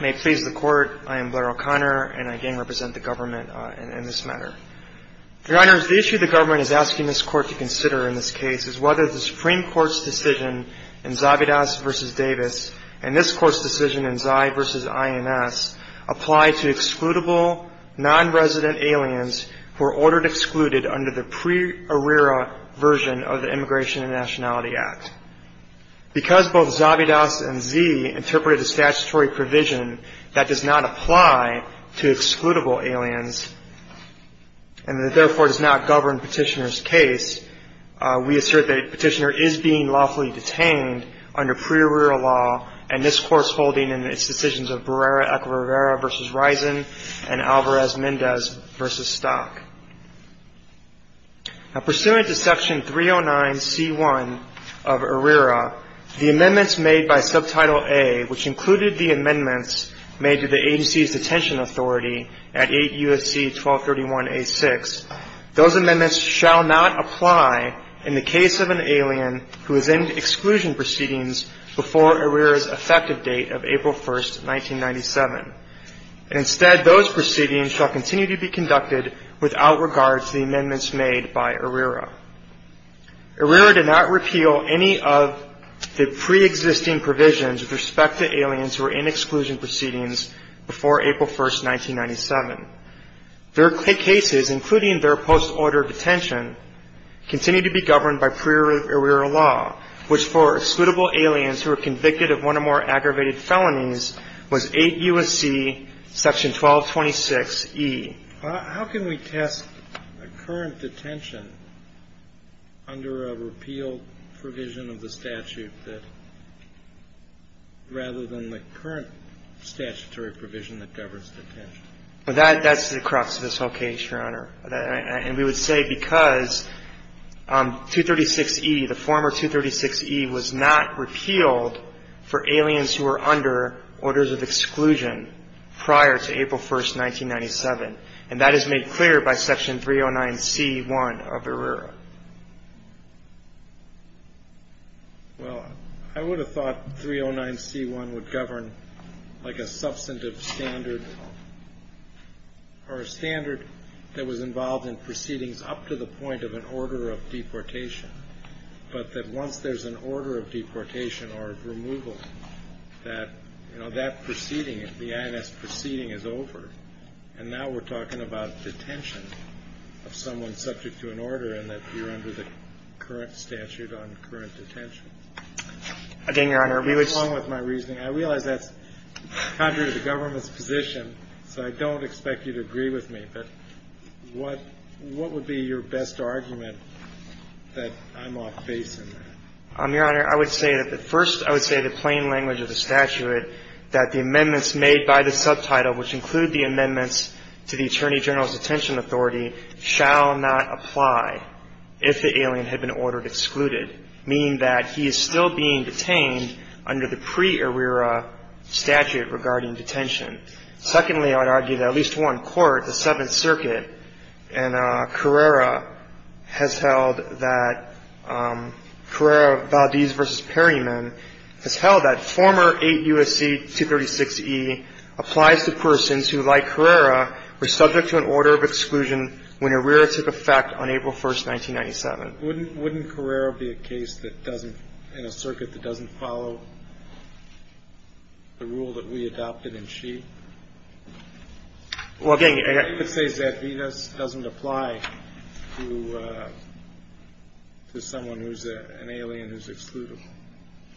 May it please the Court, I am Blair O'Connor and I again represent the government in this matter. Your Honors, the issue the government is asking this Court to consider in this case is whether the Supreme Court's decision in Zavidas v. Davis and this Court's decision in Zai v. INS apply to excludable non-resident aliens who are ordered excluded under the pre-ARRERA version of the provision that does not apply to excludable aliens and therefore does not govern Petitioner's case. We assert that Petitioner is being lawfully detained under pre-ARRERA law and this Court's holding in its decisions of Barrera v. Risen and Alvarez-Mendez v. Stock. Pursuant to Section 309 C-1 of ARRERA, the amendments made by Subtitle A, which included the amendments made to the agency's detention authority at 8 U.S.C. 1231 A-6, those amendments shall not apply in the case of an alien who is in exclusion proceedings before ARRERA's effective date of made by ARRERA. ARRERA did not repeal any of the pre-existing provisions with respect to aliens who are in exclusion proceedings before April 1, 1997. Their cases, including their post-order detention, continue to be governed by pre-ARRERA law, which for excludable aliens who are convicted of one or more aggravated felonies, was 8 U.S.C. 1226 E. How can we test a current detention under a repeal provision of the statute rather than the current statutory provision that governs detention? Well, that's the crux of this whole case, Your Honor. And we would say because 236 E, the former 236 E, was not repealed for aliens who are under orders of exclusion prior to April 1, 1997. And that is made clear by Section 309 C-1 of ARRERA. Well, I would have thought 309 C-1 would govern like a substantive standard or a standard that was involved in proceedings up to the point of an order of deportation. But that once there's an order of deportation or of removal, that, you know, that proceeding, the I.N.S. proceeding is over. And now we're talking about detention of someone subject to an order and that you're under the current statute on current detention. Again, Your Honor, we would say — You're wrong with my reasoning. I realize that's contrary to the government's position, so I don't expect you to agree with me. But what would be your best argument that I'm off-base in that? Your Honor, I would say that the — first, I would say the plain language of the statute, that the amendments made by the subtitle, which include the amendments to the Attorney General's Detention Authority, shall not apply if the alien had been ordered excluded, meaning that he is still being detained under the pre-ARRERA statute regarding detention. Secondly, I would argue that at least one court, the Seventh Circuit, and Carrera has held that — Carrera, Valdez v. Perryman, has held that former 8 U.S.C. 236e applies to persons who, like Carrera, were subject to an order of exclusion when ARRERA took effect on April 1, 1997. Wouldn't Carrera be a case that doesn't — in a circuit that doesn't follow the rule that we adopted in Shea? Well, again — I would say Zadvides doesn't apply to someone who's an alien who's excluded.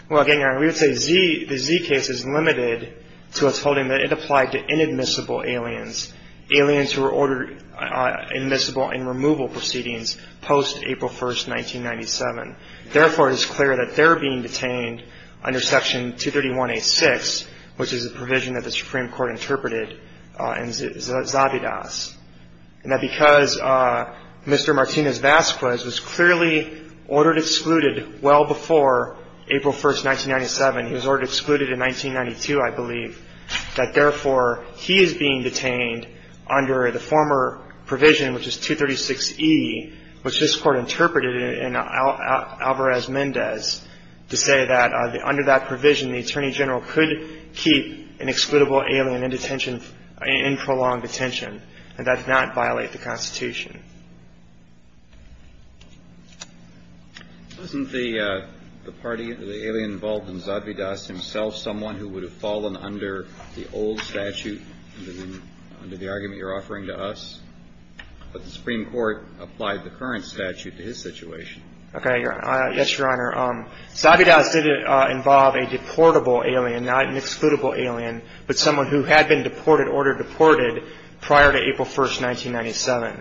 Well, again, Your Honor, we would say Z — the Z case is limited to us holding that it applied to inadmissible aliens, aliens who were ordered admissible in removal proceedings post-April 1, 1997. Therefore, it is clear that they're being detained under Section 231a-6, which is a provision that the Supreme Court interpreted in Zadvides, And that because Mr. Martinez-Vasquez was clearly ordered excluded well before April 1, 1997 — he was ordered excluded in 1992, I believe — that, therefore, he is being detained under the former provision, which is 236e, which this Court interpreted in Alvarez-Mendez to say that under that provision, the Attorney General could keep an excludable alien in detention — in prolonged detention. And that did not violate the Constitution. Wasn't the party — the alien involved in Zadvides himself someone who would have fallen under the old statute, under the argument you're offering to us? But the Supreme Court applied the current statute to his situation. Okay. Yes, Your Honor. Zadvides did involve a deportable alien, not an excludable alien, but someone who had been deported, ordered deported, prior to April 1, 1997.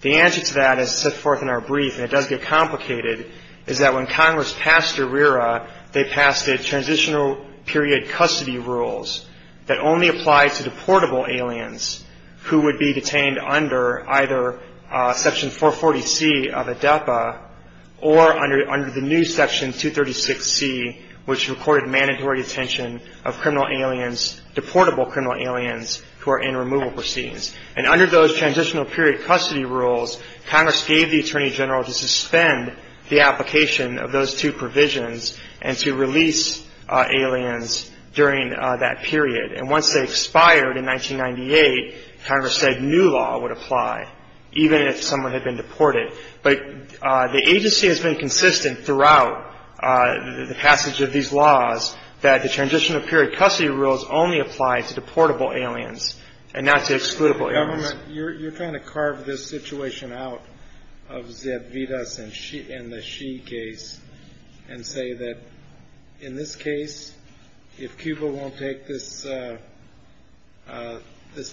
The answer to that, as set forth in our brief, and it does get complicated, is that when Congress passed ERIRA, they passed a transitional period custody rules that only apply to deportable aliens who would be detained under either Section 440c of ADEPA or under the new Section 236c, which recorded mandatory detention of criminal aliens, deportable criminal aliens who are in removal proceedings. And under those transitional period custody rules, Congress gave the Attorney General to suspend the application of those two provisions and to release aliens during that period. And once they expired in 1998, Congress said new law would apply, even if someone had been deported. But the agency has been consistent throughout the passage of these laws that the transitional period custody rules only apply to deportable aliens and not to excludable aliens. Your Honor, you're trying to carve this situation out of Zadvides and the Xi case and say that in this case, if Cuba won't take this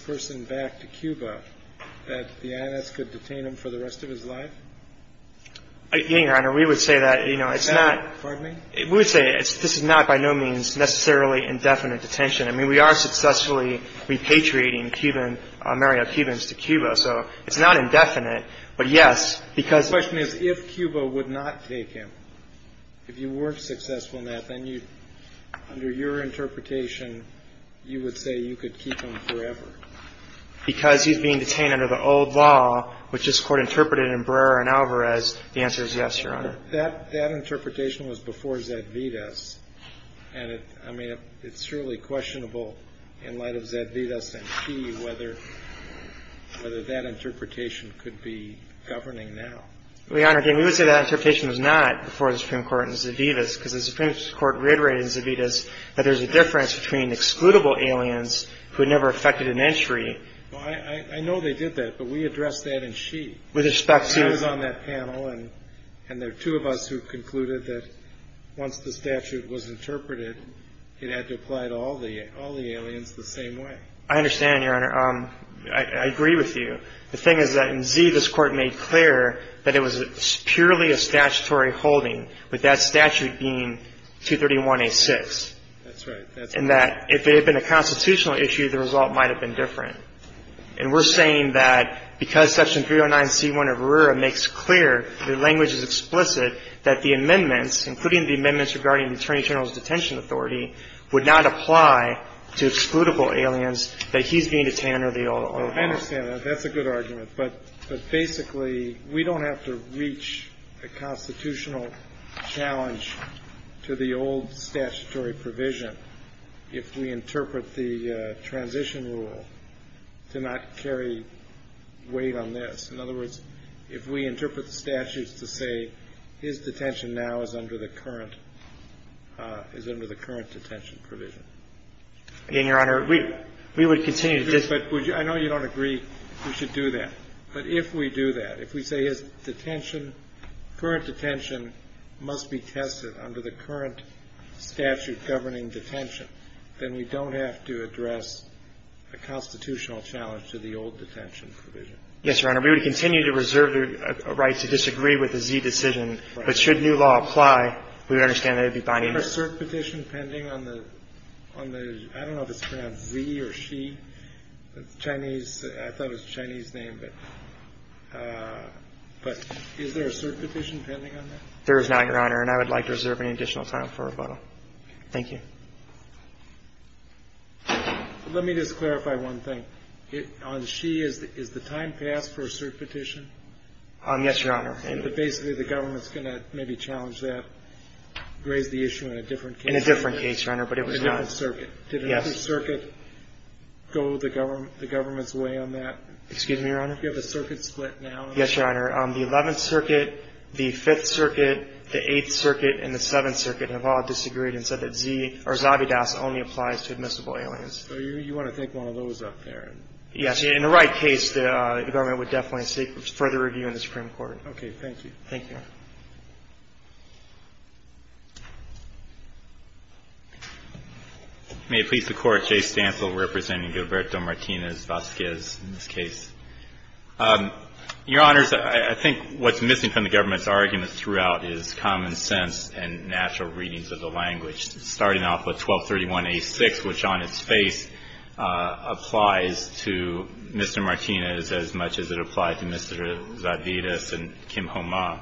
person back to Cuba, that the I.N.S. could detain him for the rest of his life? Your Honor, we would say that, you know, it's not – Pardon me? We would say this is not by no means necessarily indefinite detention. I mean, we are successfully repatriating Cuban – Mario Cubans to Cuba. So it's not indefinite, but yes, because – The question is, if Cuba would not take him, if you weren't successful in that, then you – under your interpretation, you would say you could keep him forever. Because he's being detained under the old law, which this Court interpreted in Brera and Alvarez, the answer is yes, Your Honor. That interpretation was before Zadvides. And I mean, it's surely questionable in light of Zadvides and Xi whether that interpretation could be governing now. Your Honor, again, we would say that interpretation was not before the Supreme Court in Zadvides because the Supreme Court reiterated in Zadvides that there's a difference between excludable aliens who had never affected an entry – Well, I know they did that, but we addressed that in Xi. With respect to – I was on that panel, and there are two of us who concluded that once the statute was interpreted, it had to apply to all the aliens the same way. I understand, Your Honor. I agree with you. The thing is that in Xi, this Court made clear that it was purely a statutory holding, with that statute being 231A6. That's right. And that if it had been a constitutional issue, the result might have been different. And we're saying that because Section 309C1 of Brera makes clear, the language is explicit, that the amendments, including the amendments regarding the Attorney General's detention authority, would not apply to excludable aliens that he's being detained under the old law. I understand that. That's a good argument. But basically, we don't have to reach a constitutional challenge to the old statutory provision if we interpret the transition rule to not carry weight on this. In other words, if we interpret the statutes to say his detention now is under the current – is under the current detention provision. Again, Your Honor, we would continue to disagree. But I know you don't agree we should do that. But if we do that, if we say his detention, current detention, must be tested under the current statute governing detention, then we don't have to address a constitutional challenge to the old detention provision. Yes, Your Honor. We would continue to reserve the right to disagree with the Xi decision. But should new law apply, we would understand that it would be binding. Is there a cert petition pending on the – I don't know if it's pronounced Xi or Xi. It's Chinese. I thought it was a Chinese name. But is there a cert petition pending on that? There is not, Your Honor. And I would like to reserve any additional time for rebuttal. Thank you. Let me just clarify one thing. On Xi, is the time passed for a cert petition? Yes, Your Honor. But basically, the government's going to maybe challenge that, raise the issue in a different case. In a different case, Your Honor, but it was not – A different circuit. Yes. Did another circuit go the government's way on that? Excuse me, Your Honor? Do you have a circuit split now? Yes, Your Honor. The 11th Circuit, the 5th Circuit, the 8th Circuit, and the 7th Circuit have all disagreed and said that Xi or Zabidas only applies to admissible aliens. So you want to take one of those up there? Yes. In the right case, the government would definitely seek further review in the Supreme Court. Okay. Thank you. Thank you, Your Honor. May it please the Court, Jay Stansel representing Gilberto Martinez Vazquez in this case. Your Honors, I think what's missing from the government's argument throughout is common sense and natural readings of the language, starting off with 1231a6, which on its face applies to Mr. Martinez as much as it applies to Mr. Zabidas and Kim Ho Ma.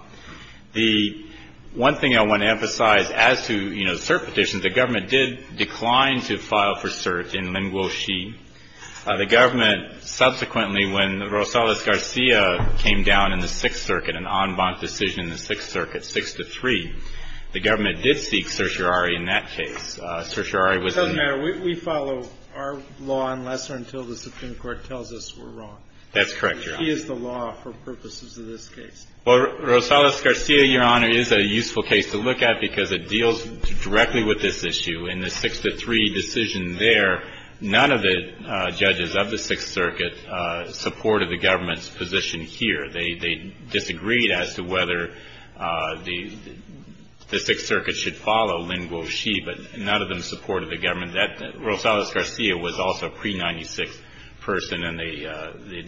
The one thing I want to emphasize as to, you know, cert petitions, the government did decline to file for cert in Lin Guo Xi. The government subsequently, when Rosales-Garcia came down in the 6th Circuit, an en banc decision in the 6th Circuit, 6-3, the government did seek certiorari in that case. Certiorari was in the case. We follow our law unless or until the Supreme Court tells us we're wrong. That's correct, Your Honor. He is the law for purposes of this case. Well, Rosales-Garcia, Your Honor, is a useful case to look at because it deals directly with this issue. In the 6-3 decision there, none of the judges of the 6th Circuit supported the government's position here. They disagreed as to whether the 6th Circuit should follow Lin Guo Xi, but none of the them supported the government. Rosales-Garcia was also a pre-96 person, and the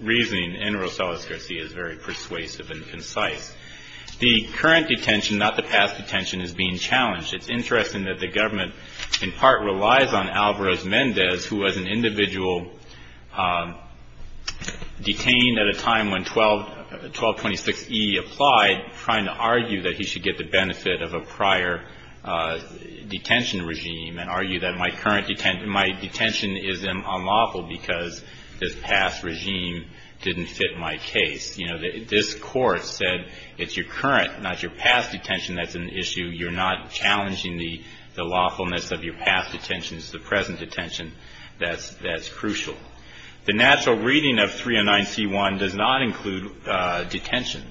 reasoning in Rosales-Garcia is very persuasive and concise. The current detention, not the past detention, is being challenged. It's interesting that the government, in part, relies on Alvarez-Mendez, who was an individual detained at a time when 1226E applied, trying to argue that he should get the benefit of a prior detention regime and argue that my current detention is unlawful because this past regime didn't fit my case. You know, this Court said it's your current, not your past, detention that's an issue. You're not challenging the lawfulness of your past detention. It's the present detention that's crucial. The natural reading of 309C1 does not include detention.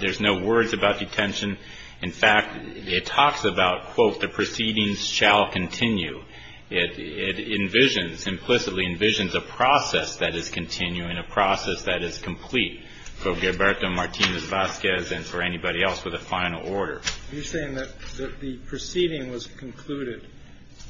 There's no words about detention. In fact, it talks about, quote, the proceedings shall continue. It envisions, implicitly envisions a process that is continuing, a process that is complete for Gilberto Martinez-Vazquez and for anybody else with a final order. You're saying that the proceeding was concluded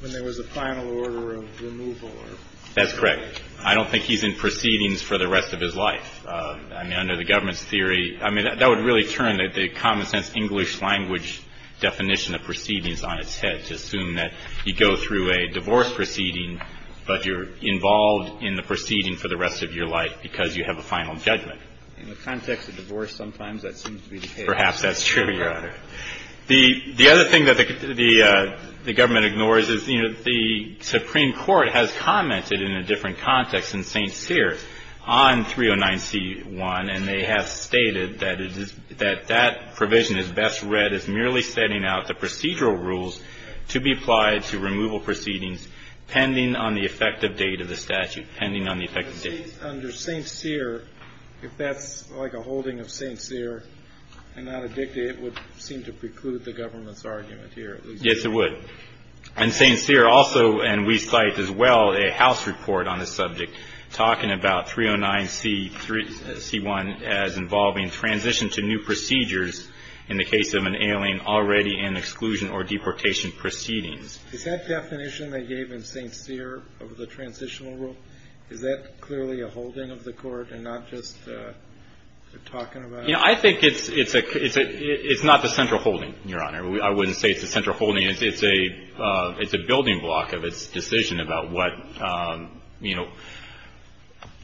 when there was a final order of removal or? That's correct. I don't think he's in proceedings for the rest of his life. I mean, under the government's theory, I mean, that would really turn the common sense English language definition of proceedings on its head to assume that you go through a divorce proceeding, but you're involved in the proceeding for the rest of your life because you have a final judgment. In the context of divorce, sometimes that seems to be the case. Perhaps that's true, Your Honor. The other thing that the government ignores is, you know, the Supreme Court has commented in a different context in St. Cyr on 309C1, and they have stated that it is, that that provision is best read as merely setting out the procedural rules to be applied to removal proceedings pending on the effective date of the statute, pending on the effective date. Under St. Cyr, if that's like a holding of St. Cyr and not a dictate, it would seem to preclude the government's argument here. Yes, it would. And St. Cyr also, and we cite as well a House report on this subject talking about 309C1 as involving transition to new procedures in the case of an alien already in exclusion or deportation proceedings. Is that definition they gave in St. Cyr of the transitional rule, is that clearly a holding of the court and not just talking about it? You know, I think it's not the central holding, Your Honor. I wouldn't say it's the central holding. It's a building block of its decision about what, you know,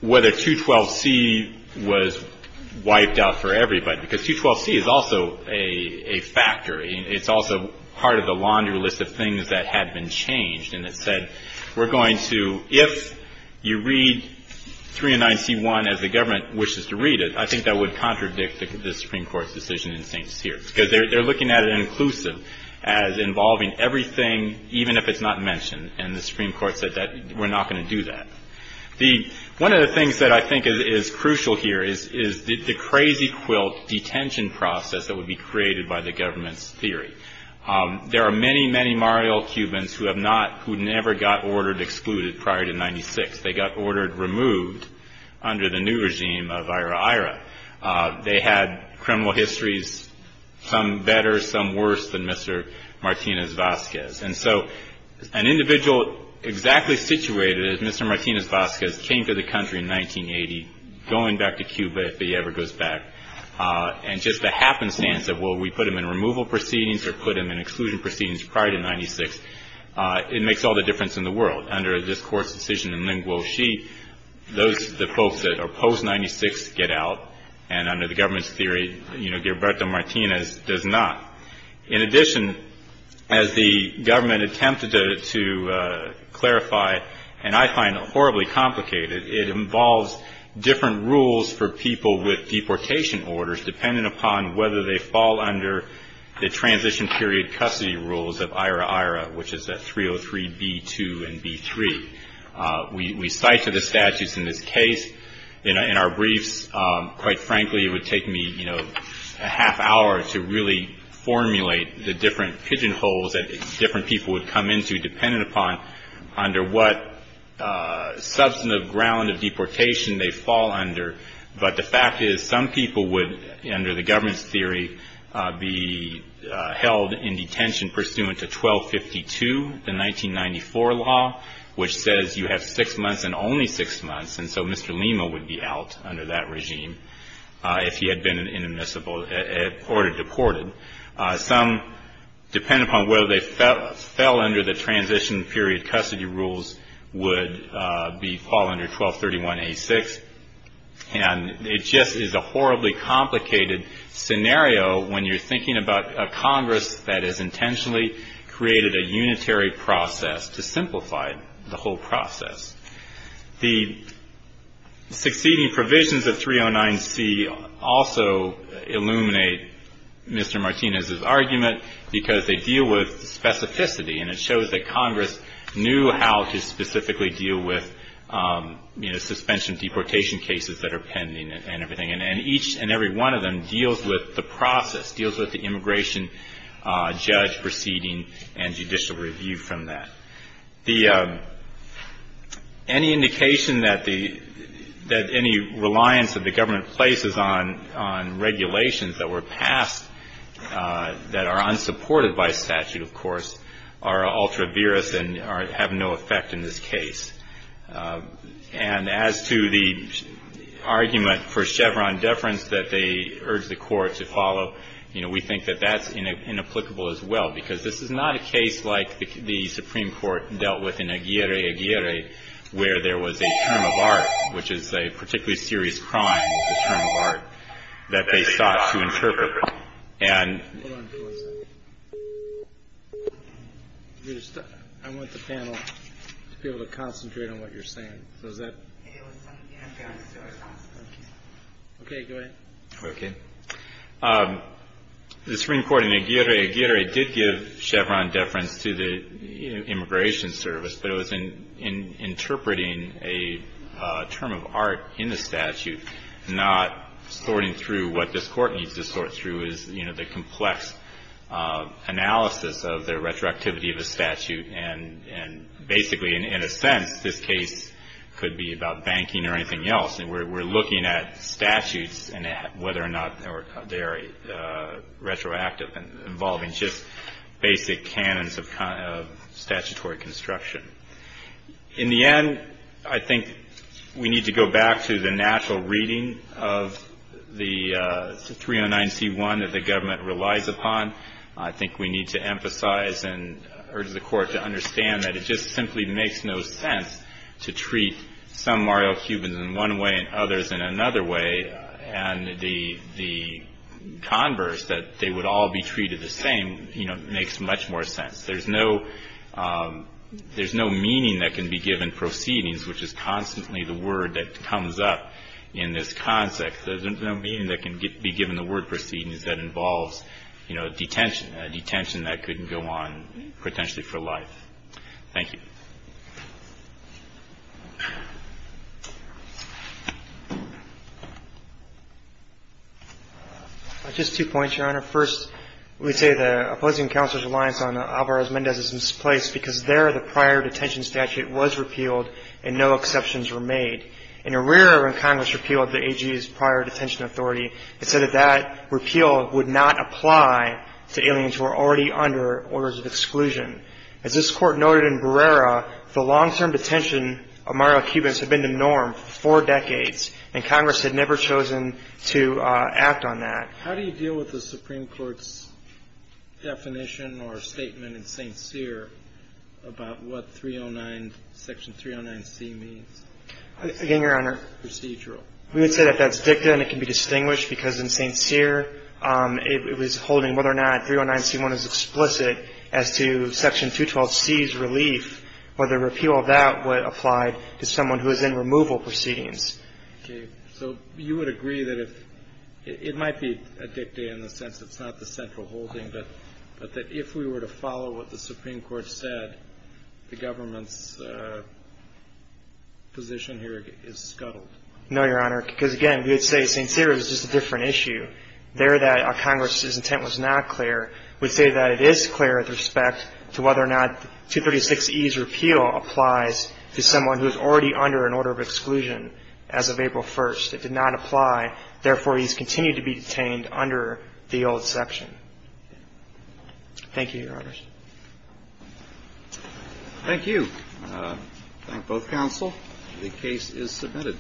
whether 212C was wiped out for everybody, because 212C is also a factor. It's also part of the laundry list of things that had been changed, and it said we're going to, if you read 309C1 as the government wishes to read it, I think that would contradict the Supreme Court's decision in St. Cyr. Because they're looking at it inclusive as involving everything, even if it's not mentioned, and the Supreme Court said that we're not going to do that. One of the things that I think is crucial here is the crazy quilt detention process that would be created by the government's theory. There are many, many Mario Cubans who have not, who never got ordered excluded prior to 96. They got ordered removed under the new regime of IRA-IRA. They had criminal histories, some better, some worse than Mr. Martinez-Vazquez. And so an individual exactly situated as Mr. Martinez-Vazquez came to the country in 1980, going back to Cuba if he ever goes back, and just the happenstance of, well, we put him in removal proceedings or put him in exclusion proceedings prior to 96, it makes all the difference in the world. Under this court's decision in Linguo Xi, those folks that are post-96 get out, and under the government's theory, you know, Gilberto Martinez does not. In addition, as the government attempted to clarify, and I find it horribly complicated, it involves different rules for people with deportation orders, depending upon whether they fall under the transition period custody rules of IRA-IRA, which is a 303-B2 and B3. We cite to the statutes in this case. In our briefs, quite frankly, it would take me, you know, a half hour to really formulate the different pigeonholes that different people would come into dependent upon under what substantive ground of deportation they fall under. But the fact is, some people would, under the government's theory, be held in detention pursuant to 1252, the 1994 law, which says you have six months and only six months, and so Mr. Lima would be out under that regime if he had been in a municipal order deported. Some, depending upon whether they fell under the transition period custody rules, would be fall under 1231-A6. And it just is a horribly complicated scenario when you're thinking about a Congress that has intentionally created a unitary process to simplify the whole process. The succeeding provisions of 309-C also illuminate Mr. Martinez's argument because they deal with specificity, and it shows that Congress knew how to specifically deal with, you know, suspension of deportation cases that are pending and everything. And each and every one of them deals with the process, deals with the immigration judge proceeding and judicial review from that. Any indication that any reliance that the government places on regulations that were passed that are unsupported by statute, of course, are ultra viris and have no effect in this case. And as to the argument for Chevron deference that they urged the court to follow, you know, we think that that's inapplicable as well because this is not a case like the Supreme Court dealt with in Aguirre-Aguirre where there was a term of art, which is a particularly serious crime, a term of art that they sought to interpret. And the Supreme Court in Aguirre-Aguirre did give Chevron deference to the Immigration Service, but it was in interpreting a term of art in the statute, not sorting through what this statute was, you know, the complex analysis of the retroactivity of the statute. And basically, in a sense, this case could be about banking or anything else. And we're looking at statutes and whether or not they're retroactive and involving just basic canons of statutory construction. In the end, I think we need to go back to the natural reading of the 309C1 that the government relies upon. I think we need to emphasize and urge the court to understand that it just simply makes no sense to treat some Mario Cubans in one way and others in another way. And the converse, that they would all be treated the same, you know, makes much more sense. There's no – there's no meaning that can be given proceedings, which is constantly the word that comes up in this context. There's no meaning that can be given the word proceedings that involves, you know, detention, a detention that could go on potentially for life. Thank you. Just two points, Your Honor. First, we say the opposing counsel's reliance on Alvarez-Mendez is misplaced because there, the prior detention statute was repealed and no exceptions were made. In Herrera, when Congress repealed the AG's prior detention authority, it said that that repeal would not apply to aliens who were already under orders of exclusion. As this Court noted in Herrera, the long-term detention of Mario Cubans had been the norm for four decades, and Congress had never chosen to act on that. How do you deal with the Supreme Court's definition or statement in St. Cyr about what 309 – Section 309c means? Again, Your Honor. Procedural. We would say that that's dicta and it can be distinguished because in St. Cyr, it was holding whether or not 309c1 is explicit as to Section 212c's relief or the repeal of that would apply to someone who is in removal proceedings. Okay. So you would agree that if – it might be a dicta in the sense it's not the central holding, but that if we were to follow what the Supreme Court said, the government's position here is scuttled? No, Your Honor, because again, we would say St. Cyr is just a different issue. There, that Congress's intent was not clear. We say that it is clear with respect to whether or not 236e's repeal applies to someone who is already under an order of exclusion as of April 1st. It did not apply. Therefore, he's continued to be detained under the old section. Thank you, Your Honors. Thank you. I thank both counsel. The case is submitted.